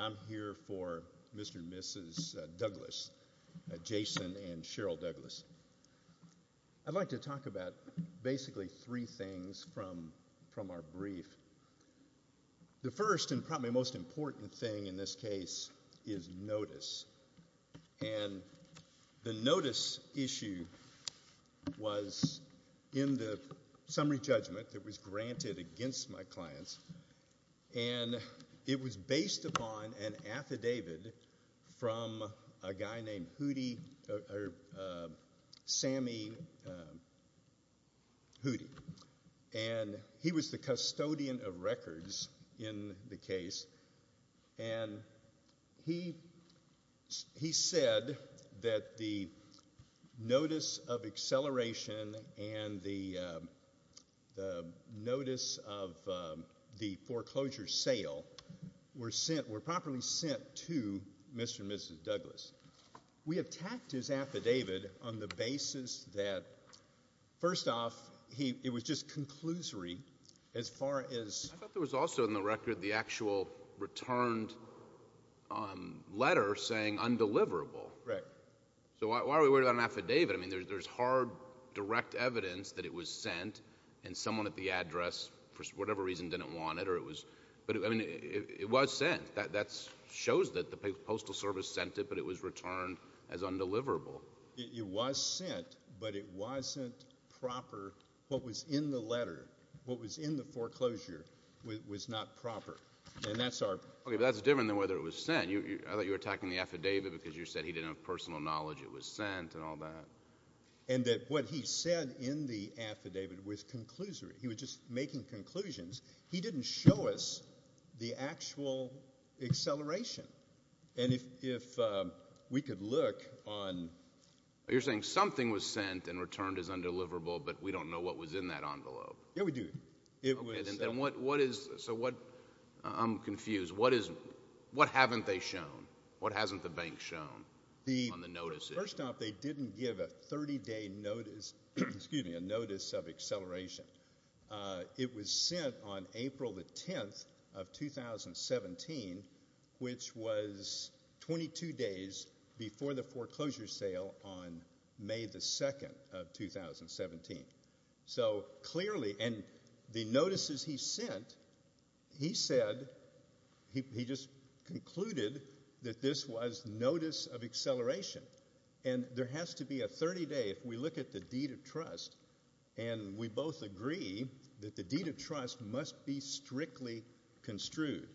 I'm here for Mr. and Mrs. Douglas, Jason and Cheryl Douglas. I'd like to talk about basically three things from our brief. The first and probably most important thing in this case is notice. And the notice issue was in the summary judgment that was granted against my clients. And it was based upon an affidavit from a guy named Hootie or Sammy Hootie. And he was the custodian of records in the case. And he said that the notice of acceleration and the notice of the foreclosure sale were sent, were properly sent to Mr. and Mrs. Douglas. We attacked his affidavit on the basis that, first off, it was just conclusory as far as. I thought there was also in the record the actual returned letter saying undeliverable. Right. So why are we worried about an affidavit? I mean, there's hard direct evidence that it was sent and someone at the address, for whatever reason, didn't want it or it was. But I mean, it was sent. That shows that the Postal Service sent it, but it was returned as undeliverable. It was sent, but it wasn't proper. What was in the letter, what was in the foreclosure, was not proper. And that's our. Okay, but that's different than whether it was sent. I thought you were attacking the affidavit because you said he didn't have personal knowledge it was sent and all that. And that what he said in the affidavit was conclusory. He was just making conclusions. He didn't show us the actual acceleration. And if we could look on. You're saying something was sent and returned as undeliverable, but we don't know what was in that envelope. Yeah, we do. It was. And what, what is, so what, I'm confused. What is, what haven't they shown? What hasn't the bank shown on the notices? First off, they didn't give a 30 day notice, excuse me, a notice of acceleration. It was sent on April the 10th of 2017, which was 22 days before the foreclosure sale on May the 2nd of 2017. So clearly, and the notices he sent, he said, he just concluded that this was notice of acceleration. And there has to be a 30 day, if we look at the deed of trust. And we both agree that the deed of trust must be strictly construed.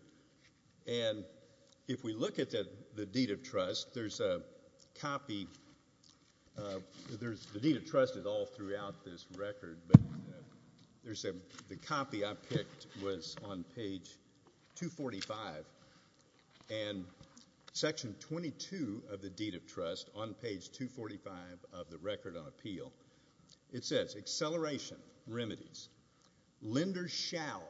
And if we look at the, the deed of trust, there's a copy there's, the deed of trust is all throughout this record, but there's a, the copy I picked was on page 245. And section 22 of the deed of trust, on page 245 of the record on appeal, it says, acceleration remedies. Lenders shall,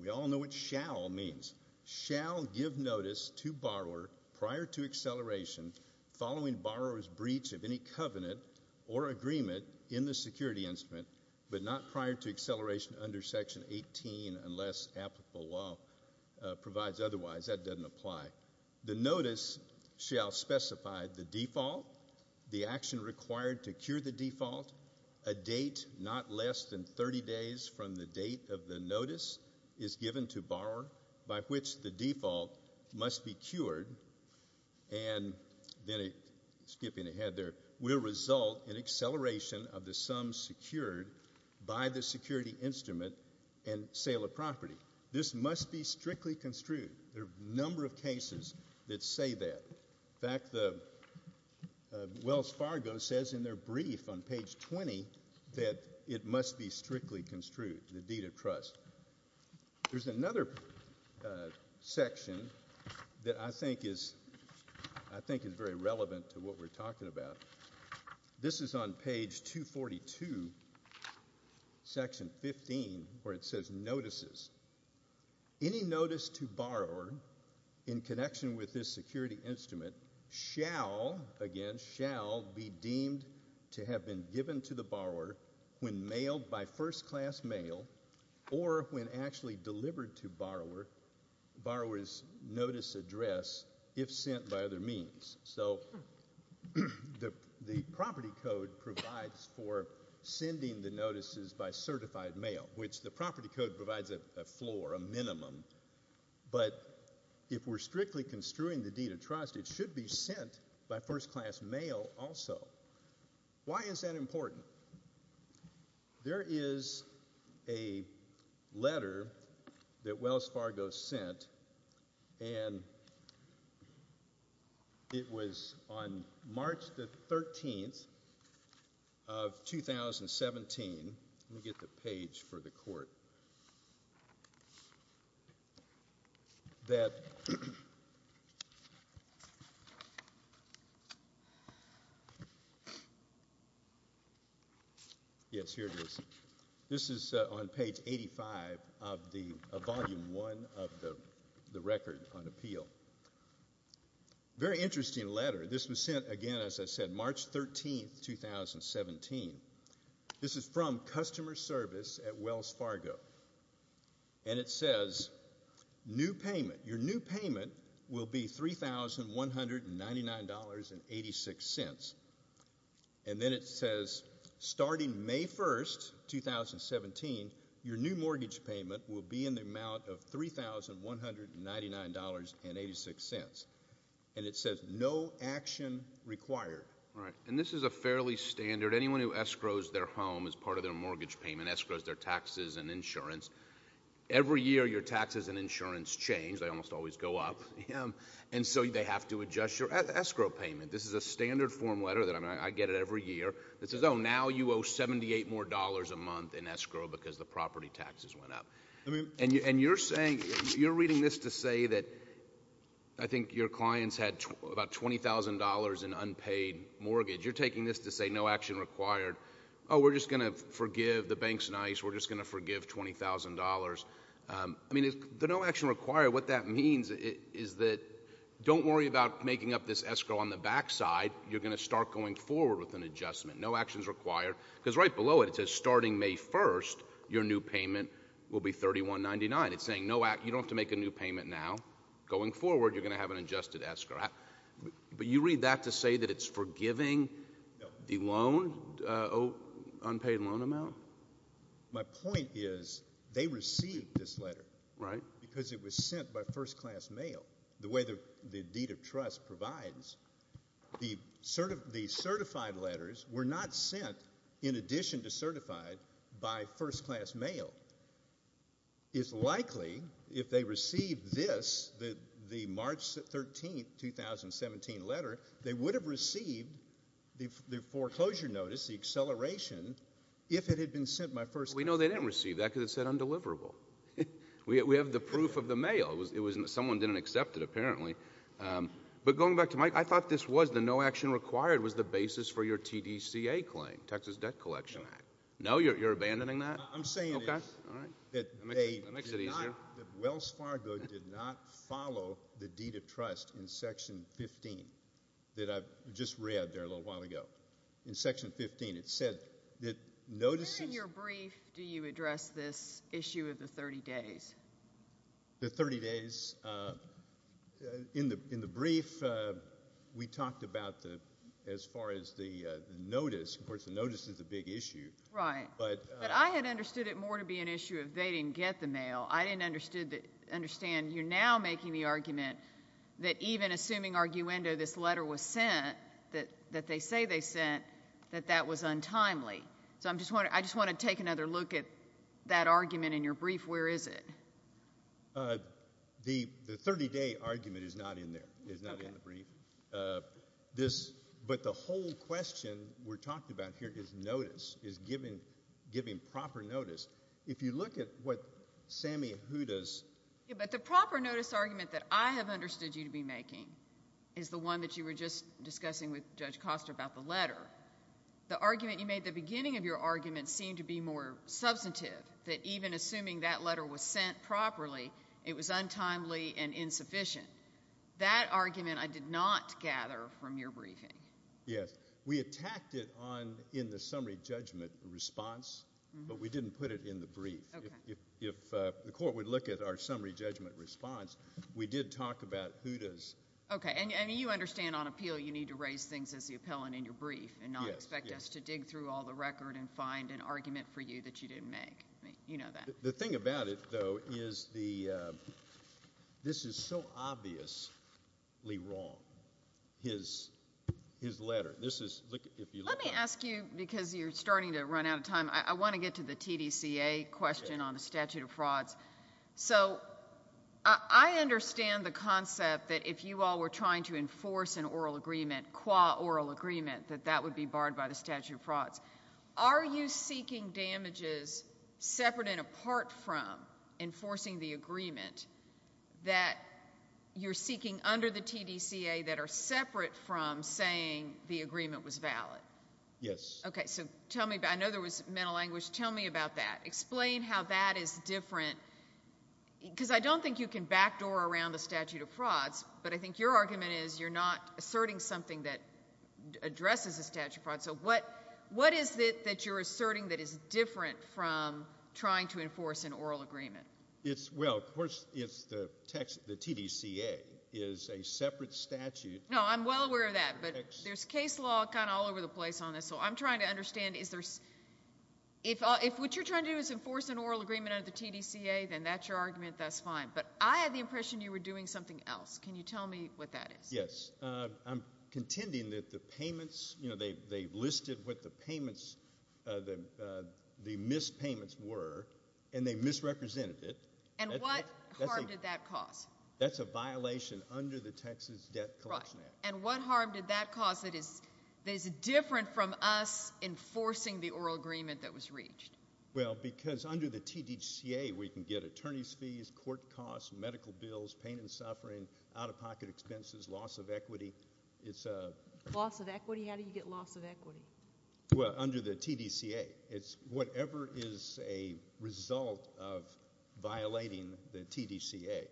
we all know what shall means, shall give notice to borrower prior to acceleration, following borrower's breach of any covenant or agreement in the security instrument, but not prior to acceleration under section 18 unless applicable law provides otherwise. That doesn't apply. The notice shall specify the default, the action required to cure the default, a date not less than 30 days from the date of the notice is given to borrower by which the default must be cured. And then skipping ahead there, will result in acceleration of the sum secured by the security instrument and sale of property. This must be strictly construed. There are a number of cases that say that. In fact, the Wells Fargo says in their brief on page 20 that it must be strictly construed, the deed of trust. There's another section that I think is very relevant to what we're talking about. This is on page 242, section 15, where it says notices. Any notice to borrower in connection with this security instrument shall, again, shall be deemed to have been given to the borrower when mailed by first class mail or when actually delivered to borrower, borrower's notice address if sent by other means. So the property code provides for sending the notices by certified mail which the property code provides a floor, a minimum. But if we're strictly construing the deed of trust, it should be sent by first class mail also. Why is that important? There is a letter that Wells Fargo sent and it was on March the 13th of 2017. Let me get the page for the court. That, yes, here it is. This is on page 85 of the, of volume one of the record on appeal. Very interesting letter. This was sent, again, as I said, March 13th, 2017. This is from customer service at Wells Fargo. And it says new payment, your new payment will be $3,199.86. And then it says starting May 1st, 2017, your new mortgage payment will be in the amount of $3,199.86. And it says no action required. All right, and this is a fairly standard. Anyone who escrows their home as part of their mortgage payment, escrows their taxes and insurance. Every year, your taxes and insurance change. They almost always go up. And so they have to adjust your escrow payment. This is a standard form letter that I get it every year. It says, now you owe $78 more a month in escrow because the property taxes went up. And you're saying, you're reading this to say that I think your clients had about $20,000 in unpaid mortgage, you're taking this to say no action required. We're just going to forgive, the bank's nice, we're just going to forgive $20,000. I mean, the no action required, what that means is that, don't worry about making up this escrow on the back side, you're going to start going forward with an adjustment. No action's required, because right below it, it says starting May 1st, your new payment will be $3,199. It's saying, you don't have to make a new payment now. Going forward, you're going to have an adjusted escrow. But you read that to say that it's forgiving the loan, unpaid loan amount? My point is, they received this letter. Right. Because it was sent by first class mail, the way the deed of trust provides. The certified letters were not sent, in addition to certified, by first class mail. It's likely, if they received this, the March 13th, 2017 letter, they would have received the foreclosure notice, the acceleration, if it had been sent by first class. We know they didn't receive that, because it said undeliverable. We have the proof of the mail. Someone didn't accept it, apparently. But going back to Mike, I thought this was, the no action required was the basis for your TDCA claim, Texas Debt Collection Act. No, you're abandoning that? No, I'm saying that Wells Fargo did not follow the deed of trust in Section 15, that I just read there a little while ago. In Section 15, it said that notices- When in your brief do you address this issue of the 30 days? The 30 days, in the brief, we talked about, as far as the notice, of course the notice is a big issue. Right. But I had understood it more to be an issue of they didn't get the mail. I didn't understand, you're now making the argument that even assuming Arguendo, this letter was sent, that they say they sent, that that was untimely. So I just want to take another look at that argument in your brief. Where is it? The 30 day argument is not in there, is not in the brief. But the whole question we're talking about here is notice, is giving proper notice. If you look at what Sammy Huda's- Yeah, but the proper notice argument that I have understood you to be making is the one that you were just discussing with Judge Costa about the letter. The argument you made at the beginning of your argument seemed to be more substantive, that even assuming that letter was sent properly, it was untimely and insufficient. That argument I did not gather from your briefing. Yes, we attacked it in the summary judgment response, but we didn't put it in the brief. If the court would look at our summary judgment response, we did talk about Huda's- Okay, and you understand on appeal you need to raise things as the appellant in your brief and not expect us to dig through all the record and find an argument for you that you didn't make. You know that. The thing about it, though, is this is so obviously wrong, his letter. This is, if you look at- Let me ask you, because you're starting to run out of time, I want to get to the TDCA question on the statute of frauds. So, I understand the concept that if you all were trying to enforce an oral agreement, qua oral agreement, that that would be barred by the statute of frauds. Are you seeking damages separate and apart from enforcing the agreement that you're seeking under the TDCA that are separate from saying the agreement was valid? Yes. Okay, so tell me, I know there was mental anguish. Tell me about that. Explain how that is different, because I don't think you can backdoor around the statute of frauds, but I think your argument is you're not asserting something that addresses the statute of frauds, so what is it that you're asserting that is different from trying to enforce an oral agreement? It's, well, of course, it's the text, the TDCA is a separate statute. No, I'm well aware of that, but there's case law kind of all over the place on this, so I'm trying to understand, is there, if what you're trying to do is enforce an oral agreement under the TDCA, then that's your argument, that's fine. But I had the impression you were doing something else. Can you tell me what that is? Yes, I'm contending that the payments, you know, they listed what the payments, the missed payments were, and they misrepresented it. And what harm did that cause? That's a violation under the Texas Debt Collection Act. Right, and what harm did that cause that is different from us enforcing the oral agreement that was reached? Well, because under the TDCA, we can get attorney's fees, court costs, medical bills, pain and suffering, out-of-pocket expenses, loss of equity. It's a— Loss of equity? How do you get loss of equity? Well, under the TDCA, it's whatever is a result of violating the TDCA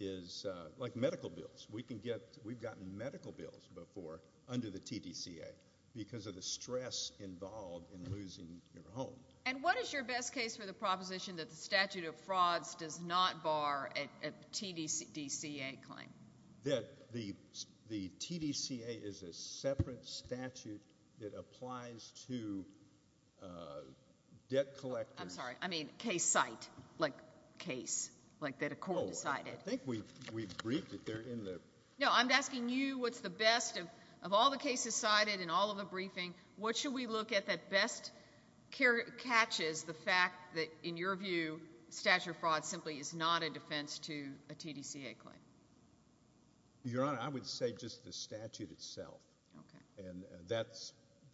is, like medical bills. We can get, we've gotten medical bills before under the TDCA because of the stress involved in losing your home. And what is your best case for the proposition that the statute of frauds does not bar a TDCA claim? That the TDCA is a separate statute that applies to debt collectors— I'm sorry, I mean, case site, like case, like that a court decided. Oh, I think we briefed it there in the— No, I'm asking you what's the best of all the cases cited in all of the briefing. What should we look at that best catches the fact that, in your view, statute of frauds simply is not a defense to a TDCA claim? Your Honor, I would say just the statute itself. Okay. And that's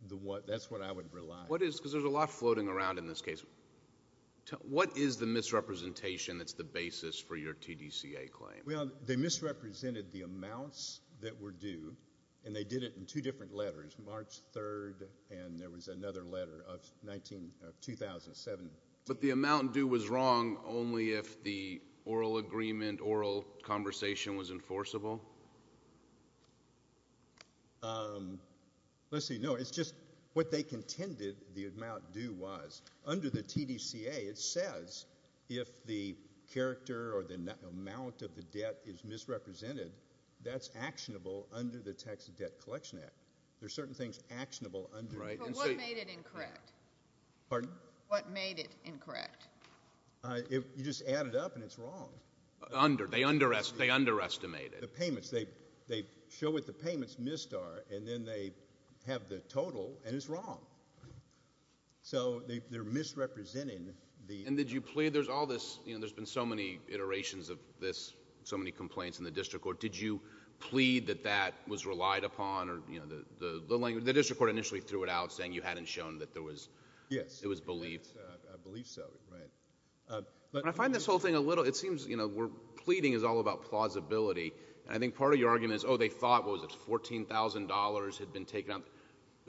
the one, that's what I would rely on. What is, because there's a lot floating around in this case. What is the misrepresentation that's the basis for your TDCA claim? Well, they misrepresented the amounts that were due, and they did it in two different letters, March 3rd, and there was another letter of 19, of 2007. But the amount due was wrong only if the oral agreement, oral conversation was enforceable? Let's see, no, it's just what they contended the amount due was. Under the TDCA, it says if the character or the amount of the debt is misrepresented, that's actionable under the Tax Debt Collection Act. There's certain things actionable under— Right, and so— But what made it incorrect? Pardon? What made it incorrect? You just add it up, and it's wrong. Under, they underestimated. The payments, they show what the payments missed are, and then they have the total, and it's wrong. So they're misrepresenting the— And did you plead, there's all this, there's been so many iterations of this, so many complaints in the district court. Did you plead that that was relied upon, or the district court initially threw it out saying you hadn't shown that there was belief? Yes, I believe so. Right. But— I find this whole thing a little, it seems, you know, we're pleading is all about plausibility. I think part of your argument is, oh, they thought, what was it, $14,000 had been taken out.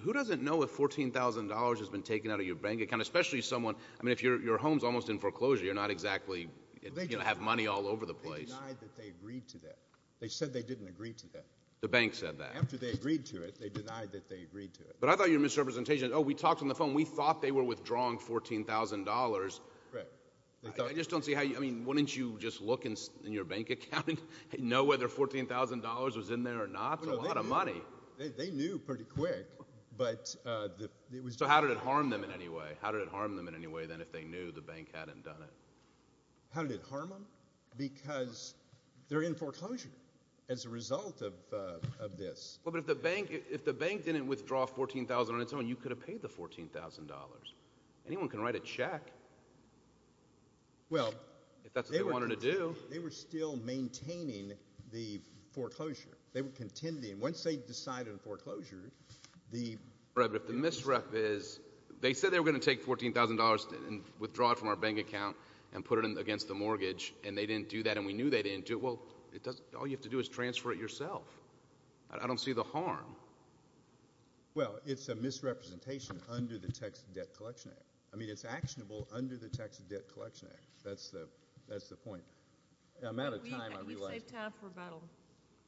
Who doesn't know if $14,000 has been taken out of your bank account, especially someone, I mean, if your home's almost in foreclosure, you're not exactly going to have money all over the place. They denied that they agreed to that. They said they didn't agree to that. The bank said that. After they agreed to it, they denied that they agreed to it. But I thought your misrepresentation, oh, we talked on the phone, we thought they were withdrawing $14,000. Right. They thought— I just don't see how you, I mean, wouldn't you just look in your bank account and know whether $14,000 was in there or not? It's a lot of money. They knew pretty quick, but it was— So how did it harm them in any way? How did it harm them in any way, then, if they knew the bank hadn't done it? How did it harm them? Because they're in foreclosure as a result of this. Well, but if the bank didn't withdraw $14,000 on its own, you could have paid the $14,000. Anyone can write a check. Well, they were— If that's what they wanted to do. They were still maintaining the foreclosure. They were contending. Once they decided on foreclosure, the— Right. But if the misrep is—they said they were going to take $14,000 and withdraw it from our bank account and put it against the mortgage, and they didn't do that, and we knew they didn't do it. I don't see that happening. I don't see that happening. I don't see that happening. I don't see that happening. Well, it's a misrepresentation under the Texas Debt Collection Act. I mean, it's actionable under the Texas Debt Collection Act. That's the point. I'm out of time. I realize— We've saved time for rebuttal.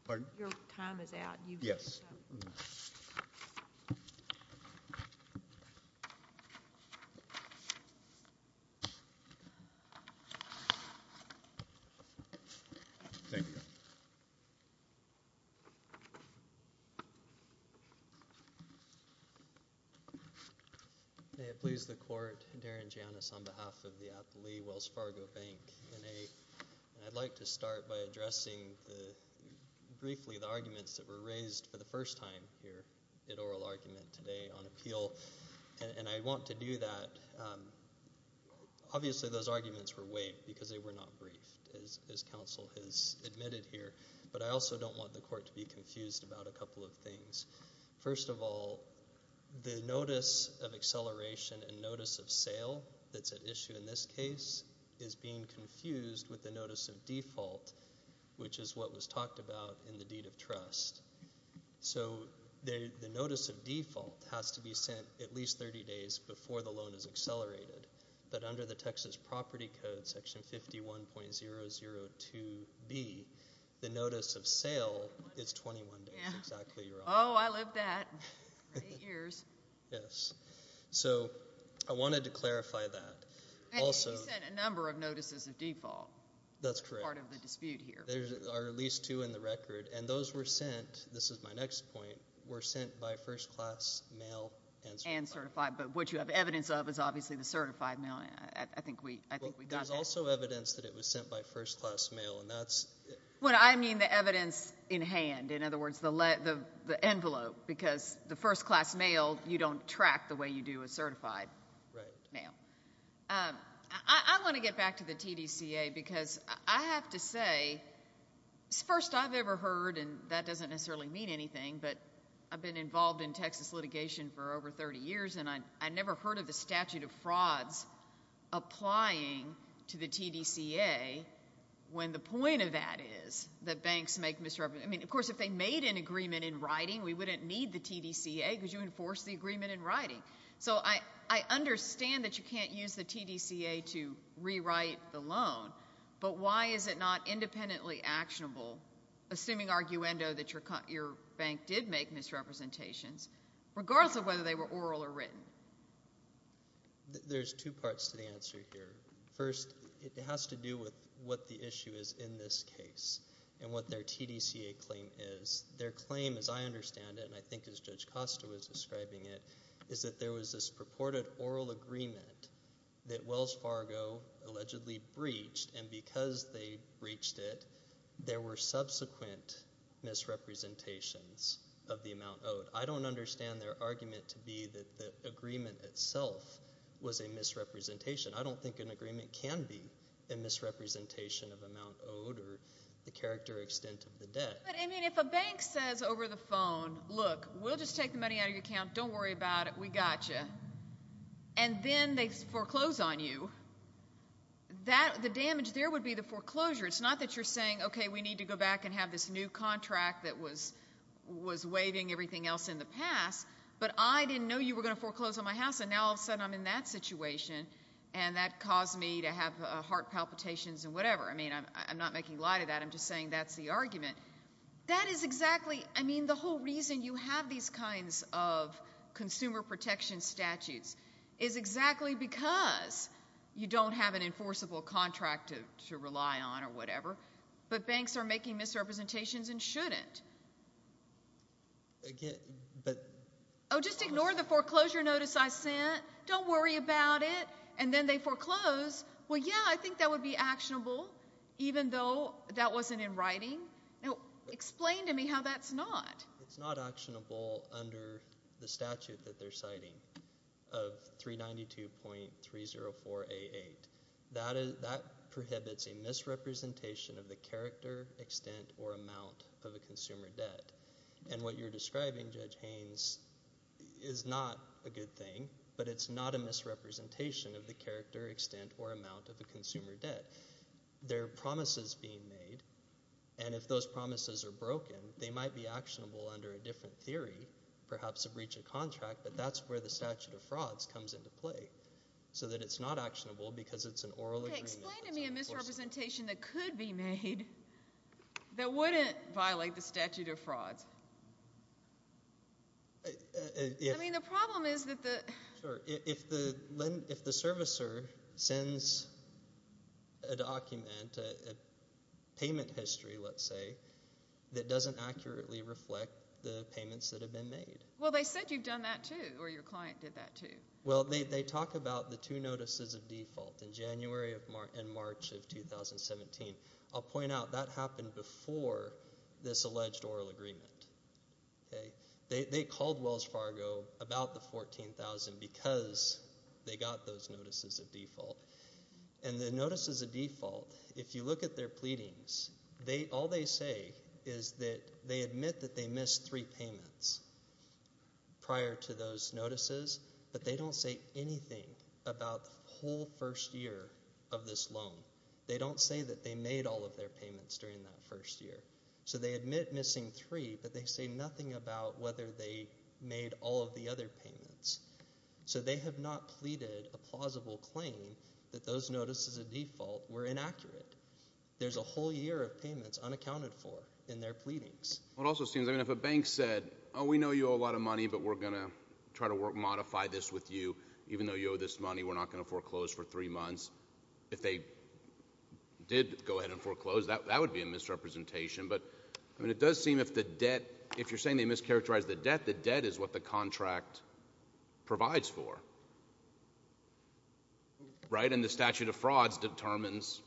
Pardon? Your time is out. Thank you. Thank you. Thank you. Thank you. Thank you. Thank you. Thank you. Thank you. Thank you. Thank you. Thank you. Thank you. Thank you. Thank you. Thank you. May it please the Court, Darren Janus on behalf of the Appley-Wells Fargo Bank. I'd like to start by addressing briefly the arguments that were raised for the first time here at oral argument today on appeal. And I want to do that—obviously, those arguments were waived because they were not briefed, as counsel has admitted here. But I also don't want the Court to be confused about a couple of things. First of all, the notice of acceleration and notice of sale that's at issue in this case is being confused with the notice of default, which is what was talked about in the deed of trust. So the notice of default has to be sent at least 30 days before the loan is accelerated. But under the Texas Property Code, Section 51.002B, the notice of sale is 21 days. Exactly. You're on. Oh, I lived that. Eight years. Yes. So I wanted to clarify that. And you sent a number of notices of default. That's correct. Part of the dispute here. There are at least two in the record. And those were sent—this is my next point—were sent by first-class mail and certified. And certified. But what you have evidence of is obviously the certified. I think we got that. Well, there's also evidence that it was sent by first-class mail, and that's— Well, I mean the evidence in hand. In other words, the envelope. Because the first-class mail, you don't track the way you do a certified mail. I want to get back to the TDCA, because I have to say, first, I've ever heard—and that doesn't necessarily mean anything, but I've been involved in Texas litigation for over 30 years, and I never heard of the statute of frauds applying to the TDCA, when the point of that is that banks make misrepresentations—I mean, of course, if they made an agreement in writing, we wouldn't need the TDCA, because you enforce the agreement in writing. So I understand that you can't use the TDCA to rewrite the loan, but why is it not independently actionable—assuming, arguendo, that your bank did make misrepresentations, regardless of whether they were oral or written? There's two parts to the answer here. First, it has to do with what the issue is in this case, and what their TDCA claim is. Their claim, as I understand it, and I think as Judge Costa was describing it, is that there was this purported oral agreement that Wells Fargo allegedly breached, and because they breached it, there were subsequent misrepresentations of the amount owed. But I don't understand their argument to be that the agreement itself was a misrepresentation. I don't think an agreement can be a misrepresentation of amount owed, or the character extent of the debt. But, I mean, if a bank says over the phone, look, we'll just take the money out of your account, don't worry about it, we got you, and then they foreclose on you, the damage there would be the foreclosure. It's not that you're saying, okay, we need to go back and have this new contract that was waiving everything else in the past, but I didn't know you were going to foreclose on my house, and now all of a sudden I'm in that situation, and that caused me to have heart palpitations and whatever. I mean, I'm not making light of that, I'm just saying that's the argument. That is exactly, I mean, the whole reason you have these kinds of consumer protection statutes is exactly because you don't have an enforceable contract to rely on or whatever, but banks are making misrepresentations and shouldn't. Again, but... Oh, just ignore the foreclosure notice I sent, don't worry about it, and then they foreclose. Well, yeah, I think that would be actionable, even though that wasn't in writing. Now, explain to me how that's not. It's not actionable under the statute that they're citing of 392.304A8. That prohibits a misrepresentation of the character, extent, or amount of a consumer debt, and what you're describing, Judge Haynes, is not a good thing, but it's not a misrepresentation of the character, extent, or amount of a consumer debt. There are promises being made, and if those promises are broken, they might be actionable under a different theory, perhaps a breach of contract, but that's where the statute of frauds comes into play, so that it's not actionable because it's an oral agreement that's on the course. Okay, explain to me a misrepresentation that could be made that wouldn't violate the statute of frauds. I mean, the problem is that the... Sure. If the servicer sends a document, a payment history, let's say, that doesn't accurately reflect the payments that have been made. Well, they said you've done that, too, or your client did that, too. Well, they talk about the two notices of default in January and March of 2017. I'll point out that happened before this alleged oral agreement. They called Wells Fargo about the $14,000 because they got those notices of default, and the notices of default, if you look at their pleadings, all they say is that they admit that they missed three payments prior to those notices, but they don't say anything about the whole first year of this loan. They don't say that they made all of their payments during that first year, so they admit missing three, but they say nothing about whether they made all of the other payments, so they have not pleaded a plausible claim that those notices of default were inaccurate. There's a whole year of payments unaccounted for in their pleadings. Well, it also seems, I mean, if a bank said, oh, we know you owe a lot of money, but we're going to try to modify this with you, even though you owe this money, we're not going to foreclose for three months, if they did go ahead and foreclose, that would be a misrepresentation, but I mean, it does seem if the debt, if you're saying they mischaracterized the debt, the debt is what the contract provides for, right, and the statute of frauds determines,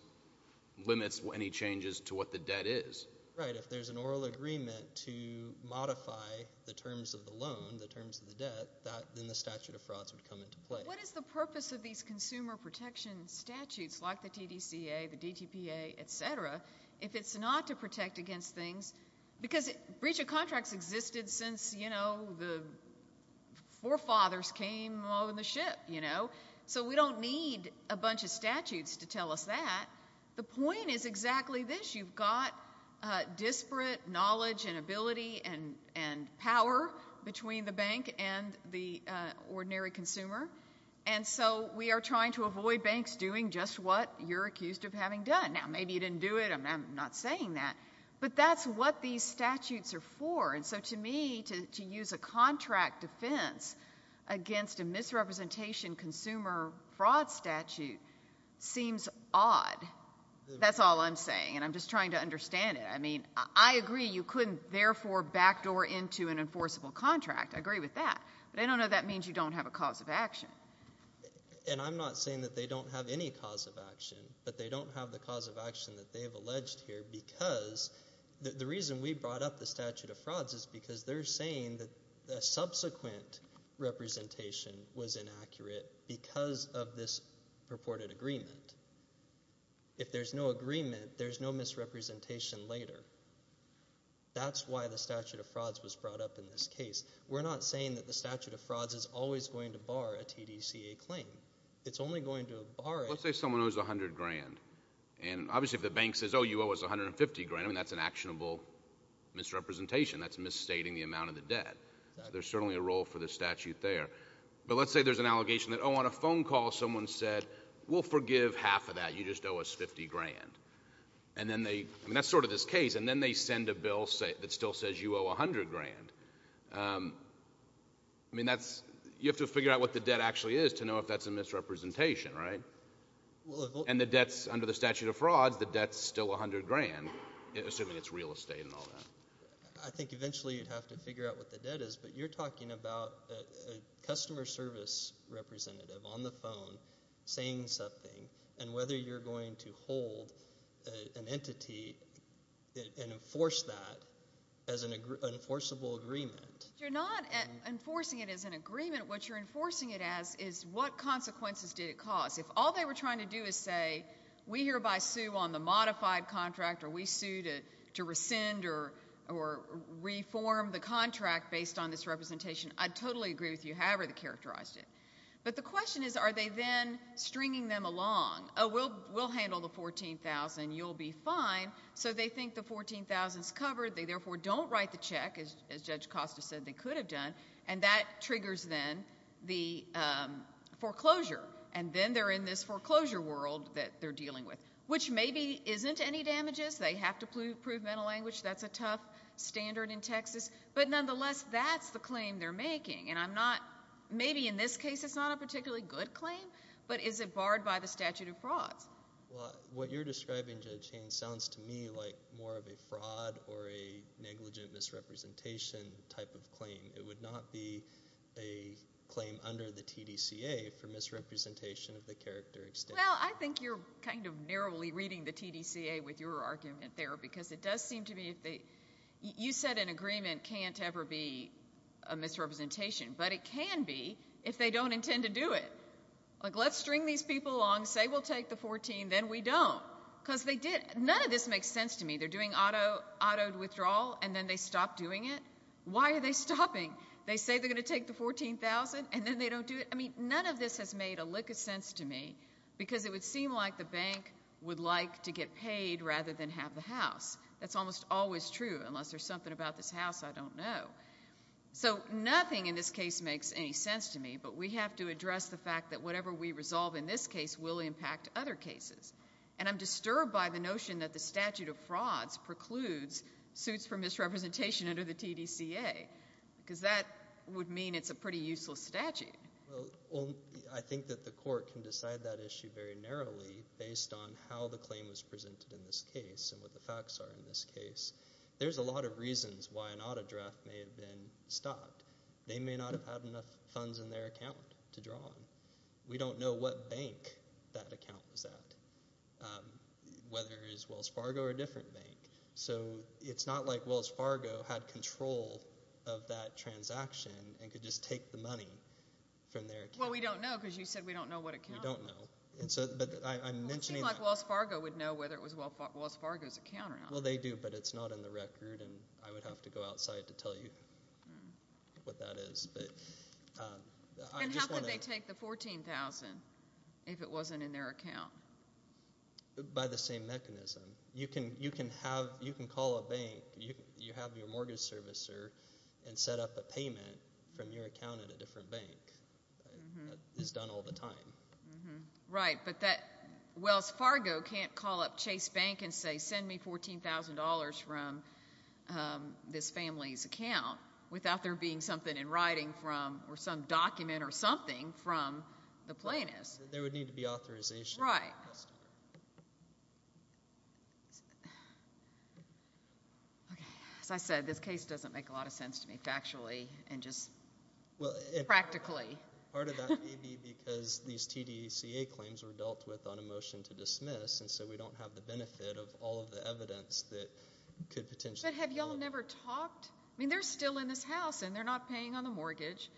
limits any changes to what the debt is. Right, if there's an oral agreement to modify the terms of the loan, the terms of the debt, then the statute of frauds would come into play. What is the purpose of these consumer protection statutes, like the TDCA, the DTPA, et cetera, if it's not to protect against things, because breach of contracts existed since, you know, the forefathers came on the ship, you know, so we don't need a bunch of statutes to tell us that. The point is exactly this, you've got disparate knowledge and ability and power between the bank and the ordinary consumer, and so we are trying to avoid banks doing just what you're accused of having done. Now, maybe you didn't do it, I'm not saying that, but that's what these statutes are for, and so to me, to use a contract defense against a misrepresentation consumer fraud statute seems odd. That's all I'm saying, and I'm just trying to understand it. I mean, I agree you couldn't therefore backdoor into an enforceable contract, I agree with that, but I don't know if that means you don't have a cause of action. And I'm not saying that they don't have any cause of action, but they don't have the cause of action that they have alleged here because the reason we brought up the statute of frauds is because they're saying that a subsequent representation was inaccurate because of this purported agreement. If there's no agreement, there's no misrepresentation later. That's why the statute of frauds was brought up in this case. We're not saying that the statute of frauds is always going to bar a TDCA claim. It's only going to bar it. Let's say someone owes 100 grand, and obviously if the bank says, oh, you owe us 150 grand, I mean, that's an actionable misrepresentation, that's misstating the amount of the debt. There's certainly a role for the statute there, but let's say there's an allegation that, you know, on a phone call someone said, we'll forgive half of that, you just owe us 50 grand. And then they, I mean, that's sort of this case, and then they send a bill that still says you owe 100 grand. I mean, that's, you have to figure out what the debt actually is to know if that's a misrepresentation, right? And the debt's, under the statute of frauds, the debt's still 100 grand, assuming it's real estate and all that. I think eventually you'd have to figure out what the debt is, but you're talking about a customer service representative on the phone saying something, and whether you're going to hold an entity and enforce that as an enforceable agreement. You're not enforcing it as an agreement. What you're enforcing it as is what consequences did it cause. If all they were trying to do is say, we hereby sue on the modified contract, or we sue to agree with you, however they characterized it. But the question is, are they then stringing them along, oh, we'll handle the 14,000, you'll be fine. So they think the 14,000's covered, they therefore don't write the check, as Judge Costa said they could have done, and that triggers then the foreclosure. And then they're in this foreclosure world that they're dealing with, which maybe isn't any damages. They have to prove mental language. That's a tough standard in Texas. But nonetheless, that's the claim they're making. And I'm not, maybe in this case it's not a particularly good claim, but is it barred by the statute of frauds? What you're describing, Judge Haynes, sounds to me like more of a fraud or a negligent misrepresentation type of claim. It would not be a claim under the TDCA for misrepresentation of the character extent. Well, I think you're kind of narrowly reading the TDCA with your argument there, because it does seem to be, you said an agreement can't ever be a misrepresentation, but it can be if they don't intend to do it. Like, let's string these people along, say we'll take the 14,000, then we don't. Because none of this makes sense to me. They're doing auto withdrawal, and then they stop doing it. Why are they stopping? They say they're going to take the 14,000, and then they don't do it. I mean, none of this has made a lick of sense to me, because it would seem like the bank would like to get paid rather than have the house. That's almost always true, unless there's something about this house I don't know. So nothing in this case makes any sense to me, but we have to address the fact that whatever we resolve in this case will impact other cases. And I'm disturbed by the notion that the statute of frauds precludes suits for misrepresentation under the TDCA, because that would mean it's a pretty useless statute. Well, I think that the court can decide that issue very narrowly based on how the claim was presented in this case and what the facts are in this case. There's a lot of reasons why an auto draft may have been stopped. They may not have had enough funds in their account to draw on. We don't know what bank that account was at, whether it's Wells Fargo or a different bank. So it's not like Wells Fargo had control of that transaction and could just take the money from their account. Well, we don't know, because you said we don't know what account it was. We don't know. It would seem like Wells Fargo would know whether it was Wells Fargo's account or not. Well, they do, but it's not in the record, and I would have to go outside to tell you what that is. And how could they take the $14,000 if it wasn't in their account? By the same mechanism. You can call a bank, you have your mortgage servicer, and set up a payment from your account at a different bank. That is done all the time. Right, but Wells Fargo can't call up Chase Bank and say, send me $14,000 from this family's account without there being something in writing from, or some document or something from the plaintiffs. There would need to be authorization. Right. Okay, as I said, this case doesn't make a lot of sense to me factually and just practically. Part of that may be because these TDCA claims were dealt with on a motion to dismiss, and so we don't have the benefit of all of the evidence that could potentially be. But have y'all never talked? I mean, they're still in this house, and they're not paying on the mortgage.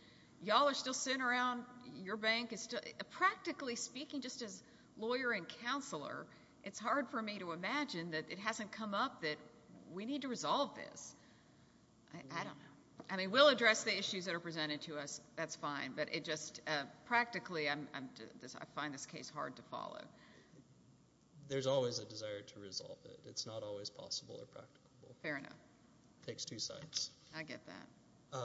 Y'all are still sitting around your bank. Practically speaking, just as lawyer and counselor, it's hard for me to imagine that it hasn't come up that we need to resolve this. I don't know. I mean, we'll address the issues that are presented to us, that's fine. But it just, practically, I find this case hard to follow. There's always a desire to resolve it. It's not always possible or practical. Fair enough. It takes two sides. I get that.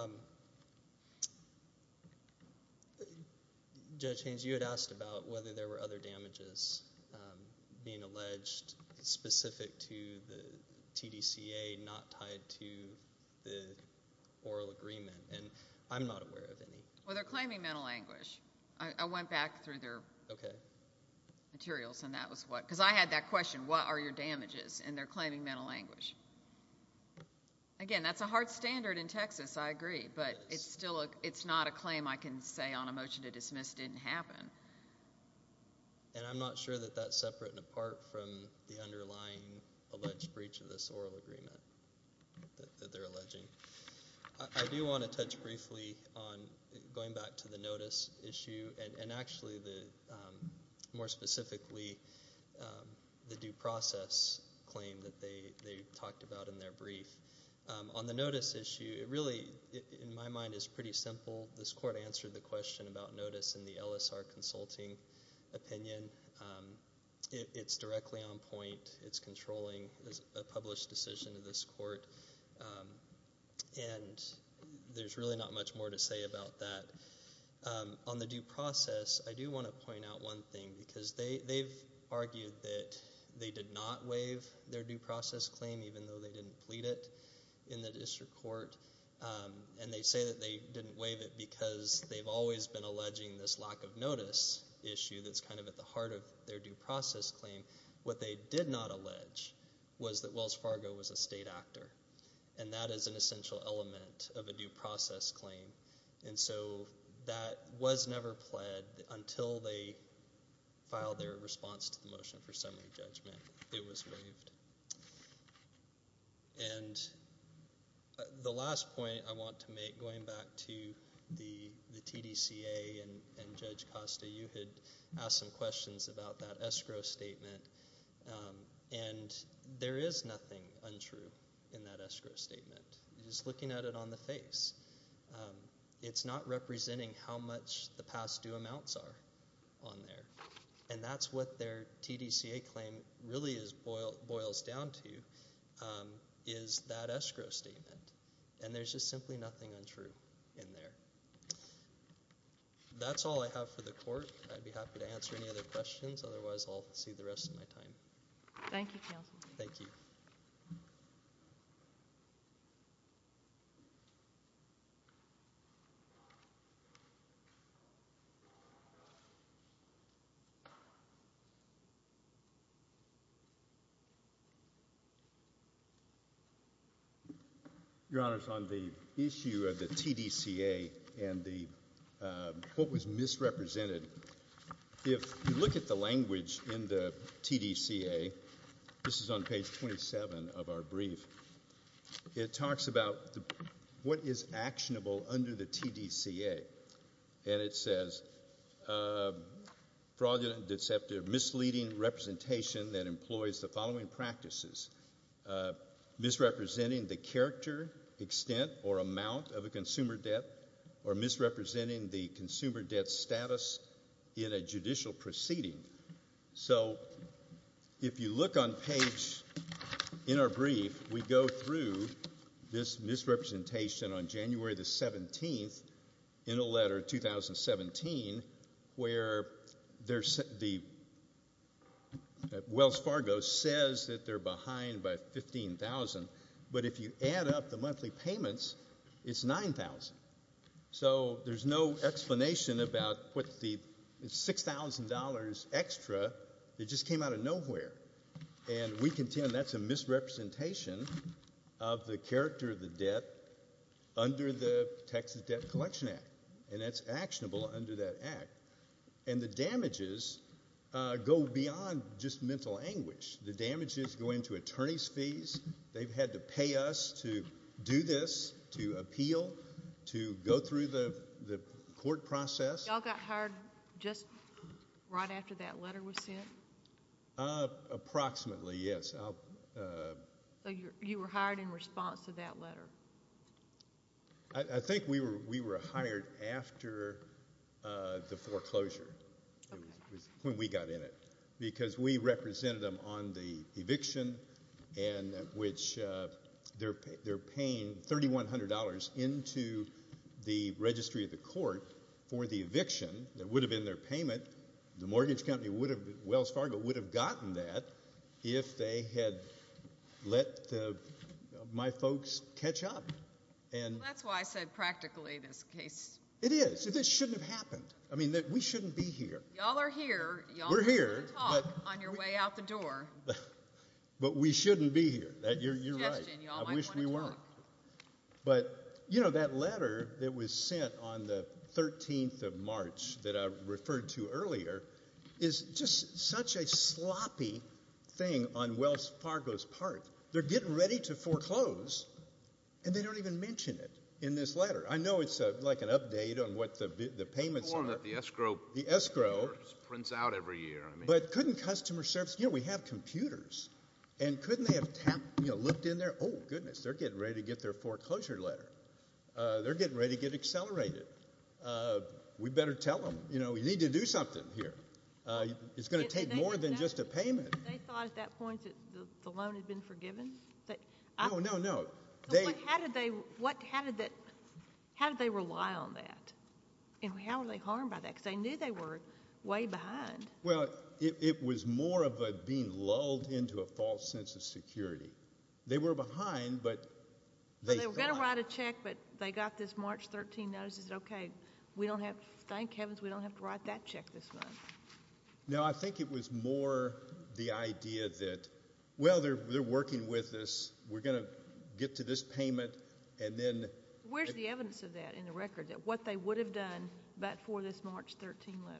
Judge Haynes, you had asked about whether there were other damages being alleged specific to the TDCA not tied to the oral agreement, and I'm not aware of any. Well, they're claiming mental anguish. I went back through their materials, and that was what, because I had that question, what are your damages? And they're claiming mental anguish. Again, that's a hard standard in Texas, I agree. But it's not a claim I can say on a motion to dismiss didn't happen. And I'm not sure that that's separate and apart from the underlying alleged breach of this oral agreement that they're alleging. I do want to touch briefly on going back to the notice issue, and actually, more specifically, the due process claim that they talked about in their brief. On the notice issue, it really, in my mind, is pretty simple. This court answered the question about notice in the LSR consulting opinion. It's directly on point. It's controlling a published decision of this court. And there's really not much more to say about that. On the due process, I do want to point out one thing. Because they've argued that they did not waive their due process claim, even though they didn't plead it in the district court. And they say that they didn't waive it because they've always been alleging this lack of notice issue that's kind of at the heart of their due process claim. What they did not allege was that Wells Fargo was a state actor. And that is an essential element of a due process claim. And so that was never pled until they filed their response to the motion for summary judgment. It was waived. And the last point I want to make, going back to the TDCA and Judge Costa, you had asked some questions about that escrow statement. And there is nothing untrue in that escrow statement. You're just looking at it on the face. It's not representing how much the past due amounts are on there. And that's what their TDCA claim really boils down to is that escrow statement. And there's just simply nothing untrue in there. That's all I have for the court. I'd be happy to answer any other questions. Otherwise, I'll see the rest of my time. Thank you, counsel. Thank you. Your Honor, on the issue of the TDCA and what was misrepresented, if you look at the language in the TDCA, this is on page 27 of our brief, it talks about what is actionable under the TDCA. And it says, fraudulent, deceptive, misleading representation that employs the following practices, misrepresenting the character, extent, or amount of a consumer debt or misrepresenting the consumer debt status in a judicial proceeding. So if you look on page, in our brief, we go through this misrepresentation on January the 17th in a letter, 2017, where Wells Fargo says that they're behind by $15,000. But if you add up the monthly payments, it's $9,000. So there's no explanation about what the $6,000 extra that just came out of nowhere. And we contend that's a misrepresentation of the character of the debt under the Texas Debt Collection Act, and that's actionable under that act. And the damages go beyond just mental anguish. The damages go into attorney's fees. They've had to pay us to do this, to appeal, to go through the court process. Y'all got hired just right after that letter was sent? Approximately, yes. So you were hired in response to that letter? I think we were hired after the foreclosure, when we got in it, because we represented them on the eviction in which they're paying $3,100 into the registry of the court for the eviction that would have been their payment. The mortgage company, Wells Fargo, would have gotten that if they had let my folks catch up. Well, that's why I said practically this case. It is. This shouldn't have happened. I mean, we shouldn't be here. Y'all are here. We're here, but we shouldn't be here. You're right. I wish we weren't. But, you know, that letter that was sent on the 13th of March that I referred to earlier is just such a sloppy thing on Wells Fargo's part. They're getting ready to foreclose, and they don't even mention it in this letter. I know it's like an update on what the payments are. The escrow prints out every year. But couldn't customer service, you know, we have computers, and couldn't they have looked in there? Oh, goodness, they're getting ready to get their foreclosure letter. They're getting ready to get accelerated. We better tell them, you know, we need to do something here. It's going to take more than just a payment. They thought at that point that the loan had been forgiven? No, no, no. How did they rely on that? And how were they harmed by that? Because they knew they were way behind. Well, it was more of being lulled into a false sense of security. They were behind, but they thought. They were going to write a check, but they got this March 13 notice and said, okay, thank heavens we don't have to write that check this month. No, I think it was more the idea that, well, they're working with us, we're going to get to this payment, and then... Where's the evidence of that in the record, that what they would have done but for this March 13 letter?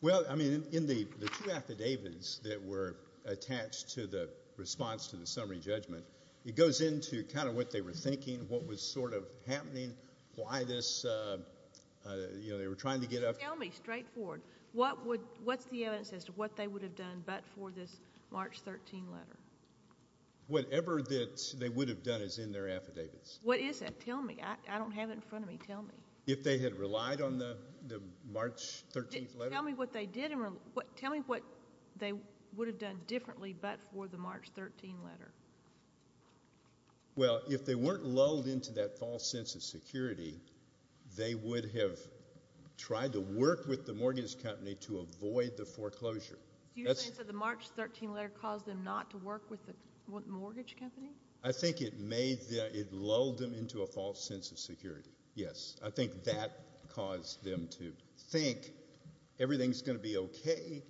Well, I mean, in the two affidavits that were attached to the response to the summary judgment, it goes into kind of what they were thinking, what was sort of happening, why this, you know, they were trying to get up... Tell me, straightforward, what's the evidence as to what they would have done but for this March 13 letter? Whatever that they would have done is in their affidavits. What is it? Tell me. I don't have it in front of me. Tell me. If they had relied on the March 13 letter? Tell me what they did. Tell me what they would have done differently but for the March 13 letter. Well, if they weren't lulled into that false sense of security, they would have tried to work with the mortgage company to avoid the foreclosure. You're saying that the March 13 letter caused them not to work with the mortgage company? I think it lulled them into a false sense of security, yes. I think that caused them to think everything's going to be okay,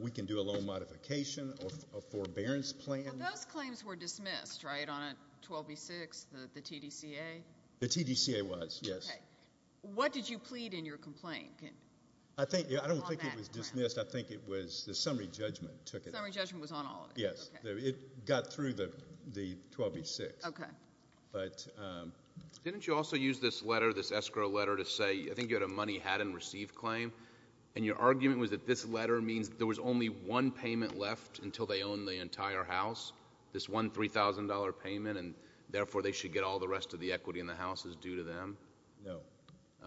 we can do a loan modification, a forbearance plan. Well, those claims were dismissed, right, on 12B6, the TDCA? The TDCA was, yes. Okay. What did you plead in your complaint? I don't think it was dismissed. I think it was the summary judgment took it. The summary judgment was on all of it? Yes. Okay. It got through the 12B6. Okay. Didn't you also use this letter, this escrow letter to say, I think you had a money-had-and-received claim, and your argument was that this letter means there was only one payment left until they owned the entire house, this one $3,000 payment, and therefore they should get all the rest of the equity in the house is due to them? No.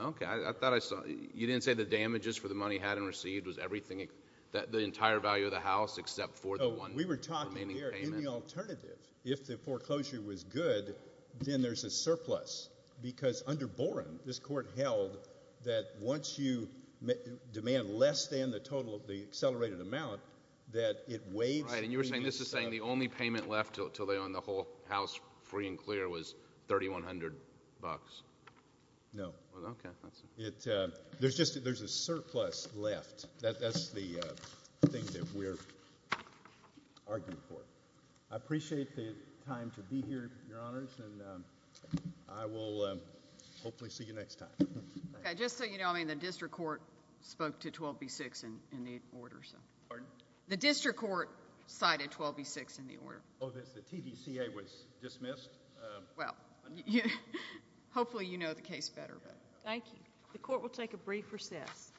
Okay. I thought I saw. You didn't say the damages for the money-had-and-received was everything, the entire value of the house except for the one? We were talking here in the alternative. If the foreclosure was good, then there's a surplus, because under Boren, this court held that once you demand less than the total of the accelerated amount, that it weighs. Right. And you were saying this is saying the only payment left until they owned the whole house free and clear was $3,100? No. Okay. There's a surplus left. That's the thing that we're arguing for. I appreciate the time to be here, Your Honors, and I will hopefully see you next time. Just so you know, I mean, the district court spoke to 12B-6 in the order. Pardon? The district court cited 12B-6 in the order. Oh, the TDCA was dismissed? Well, hopefully you know the case better. Thank you. The court will take a brief recess.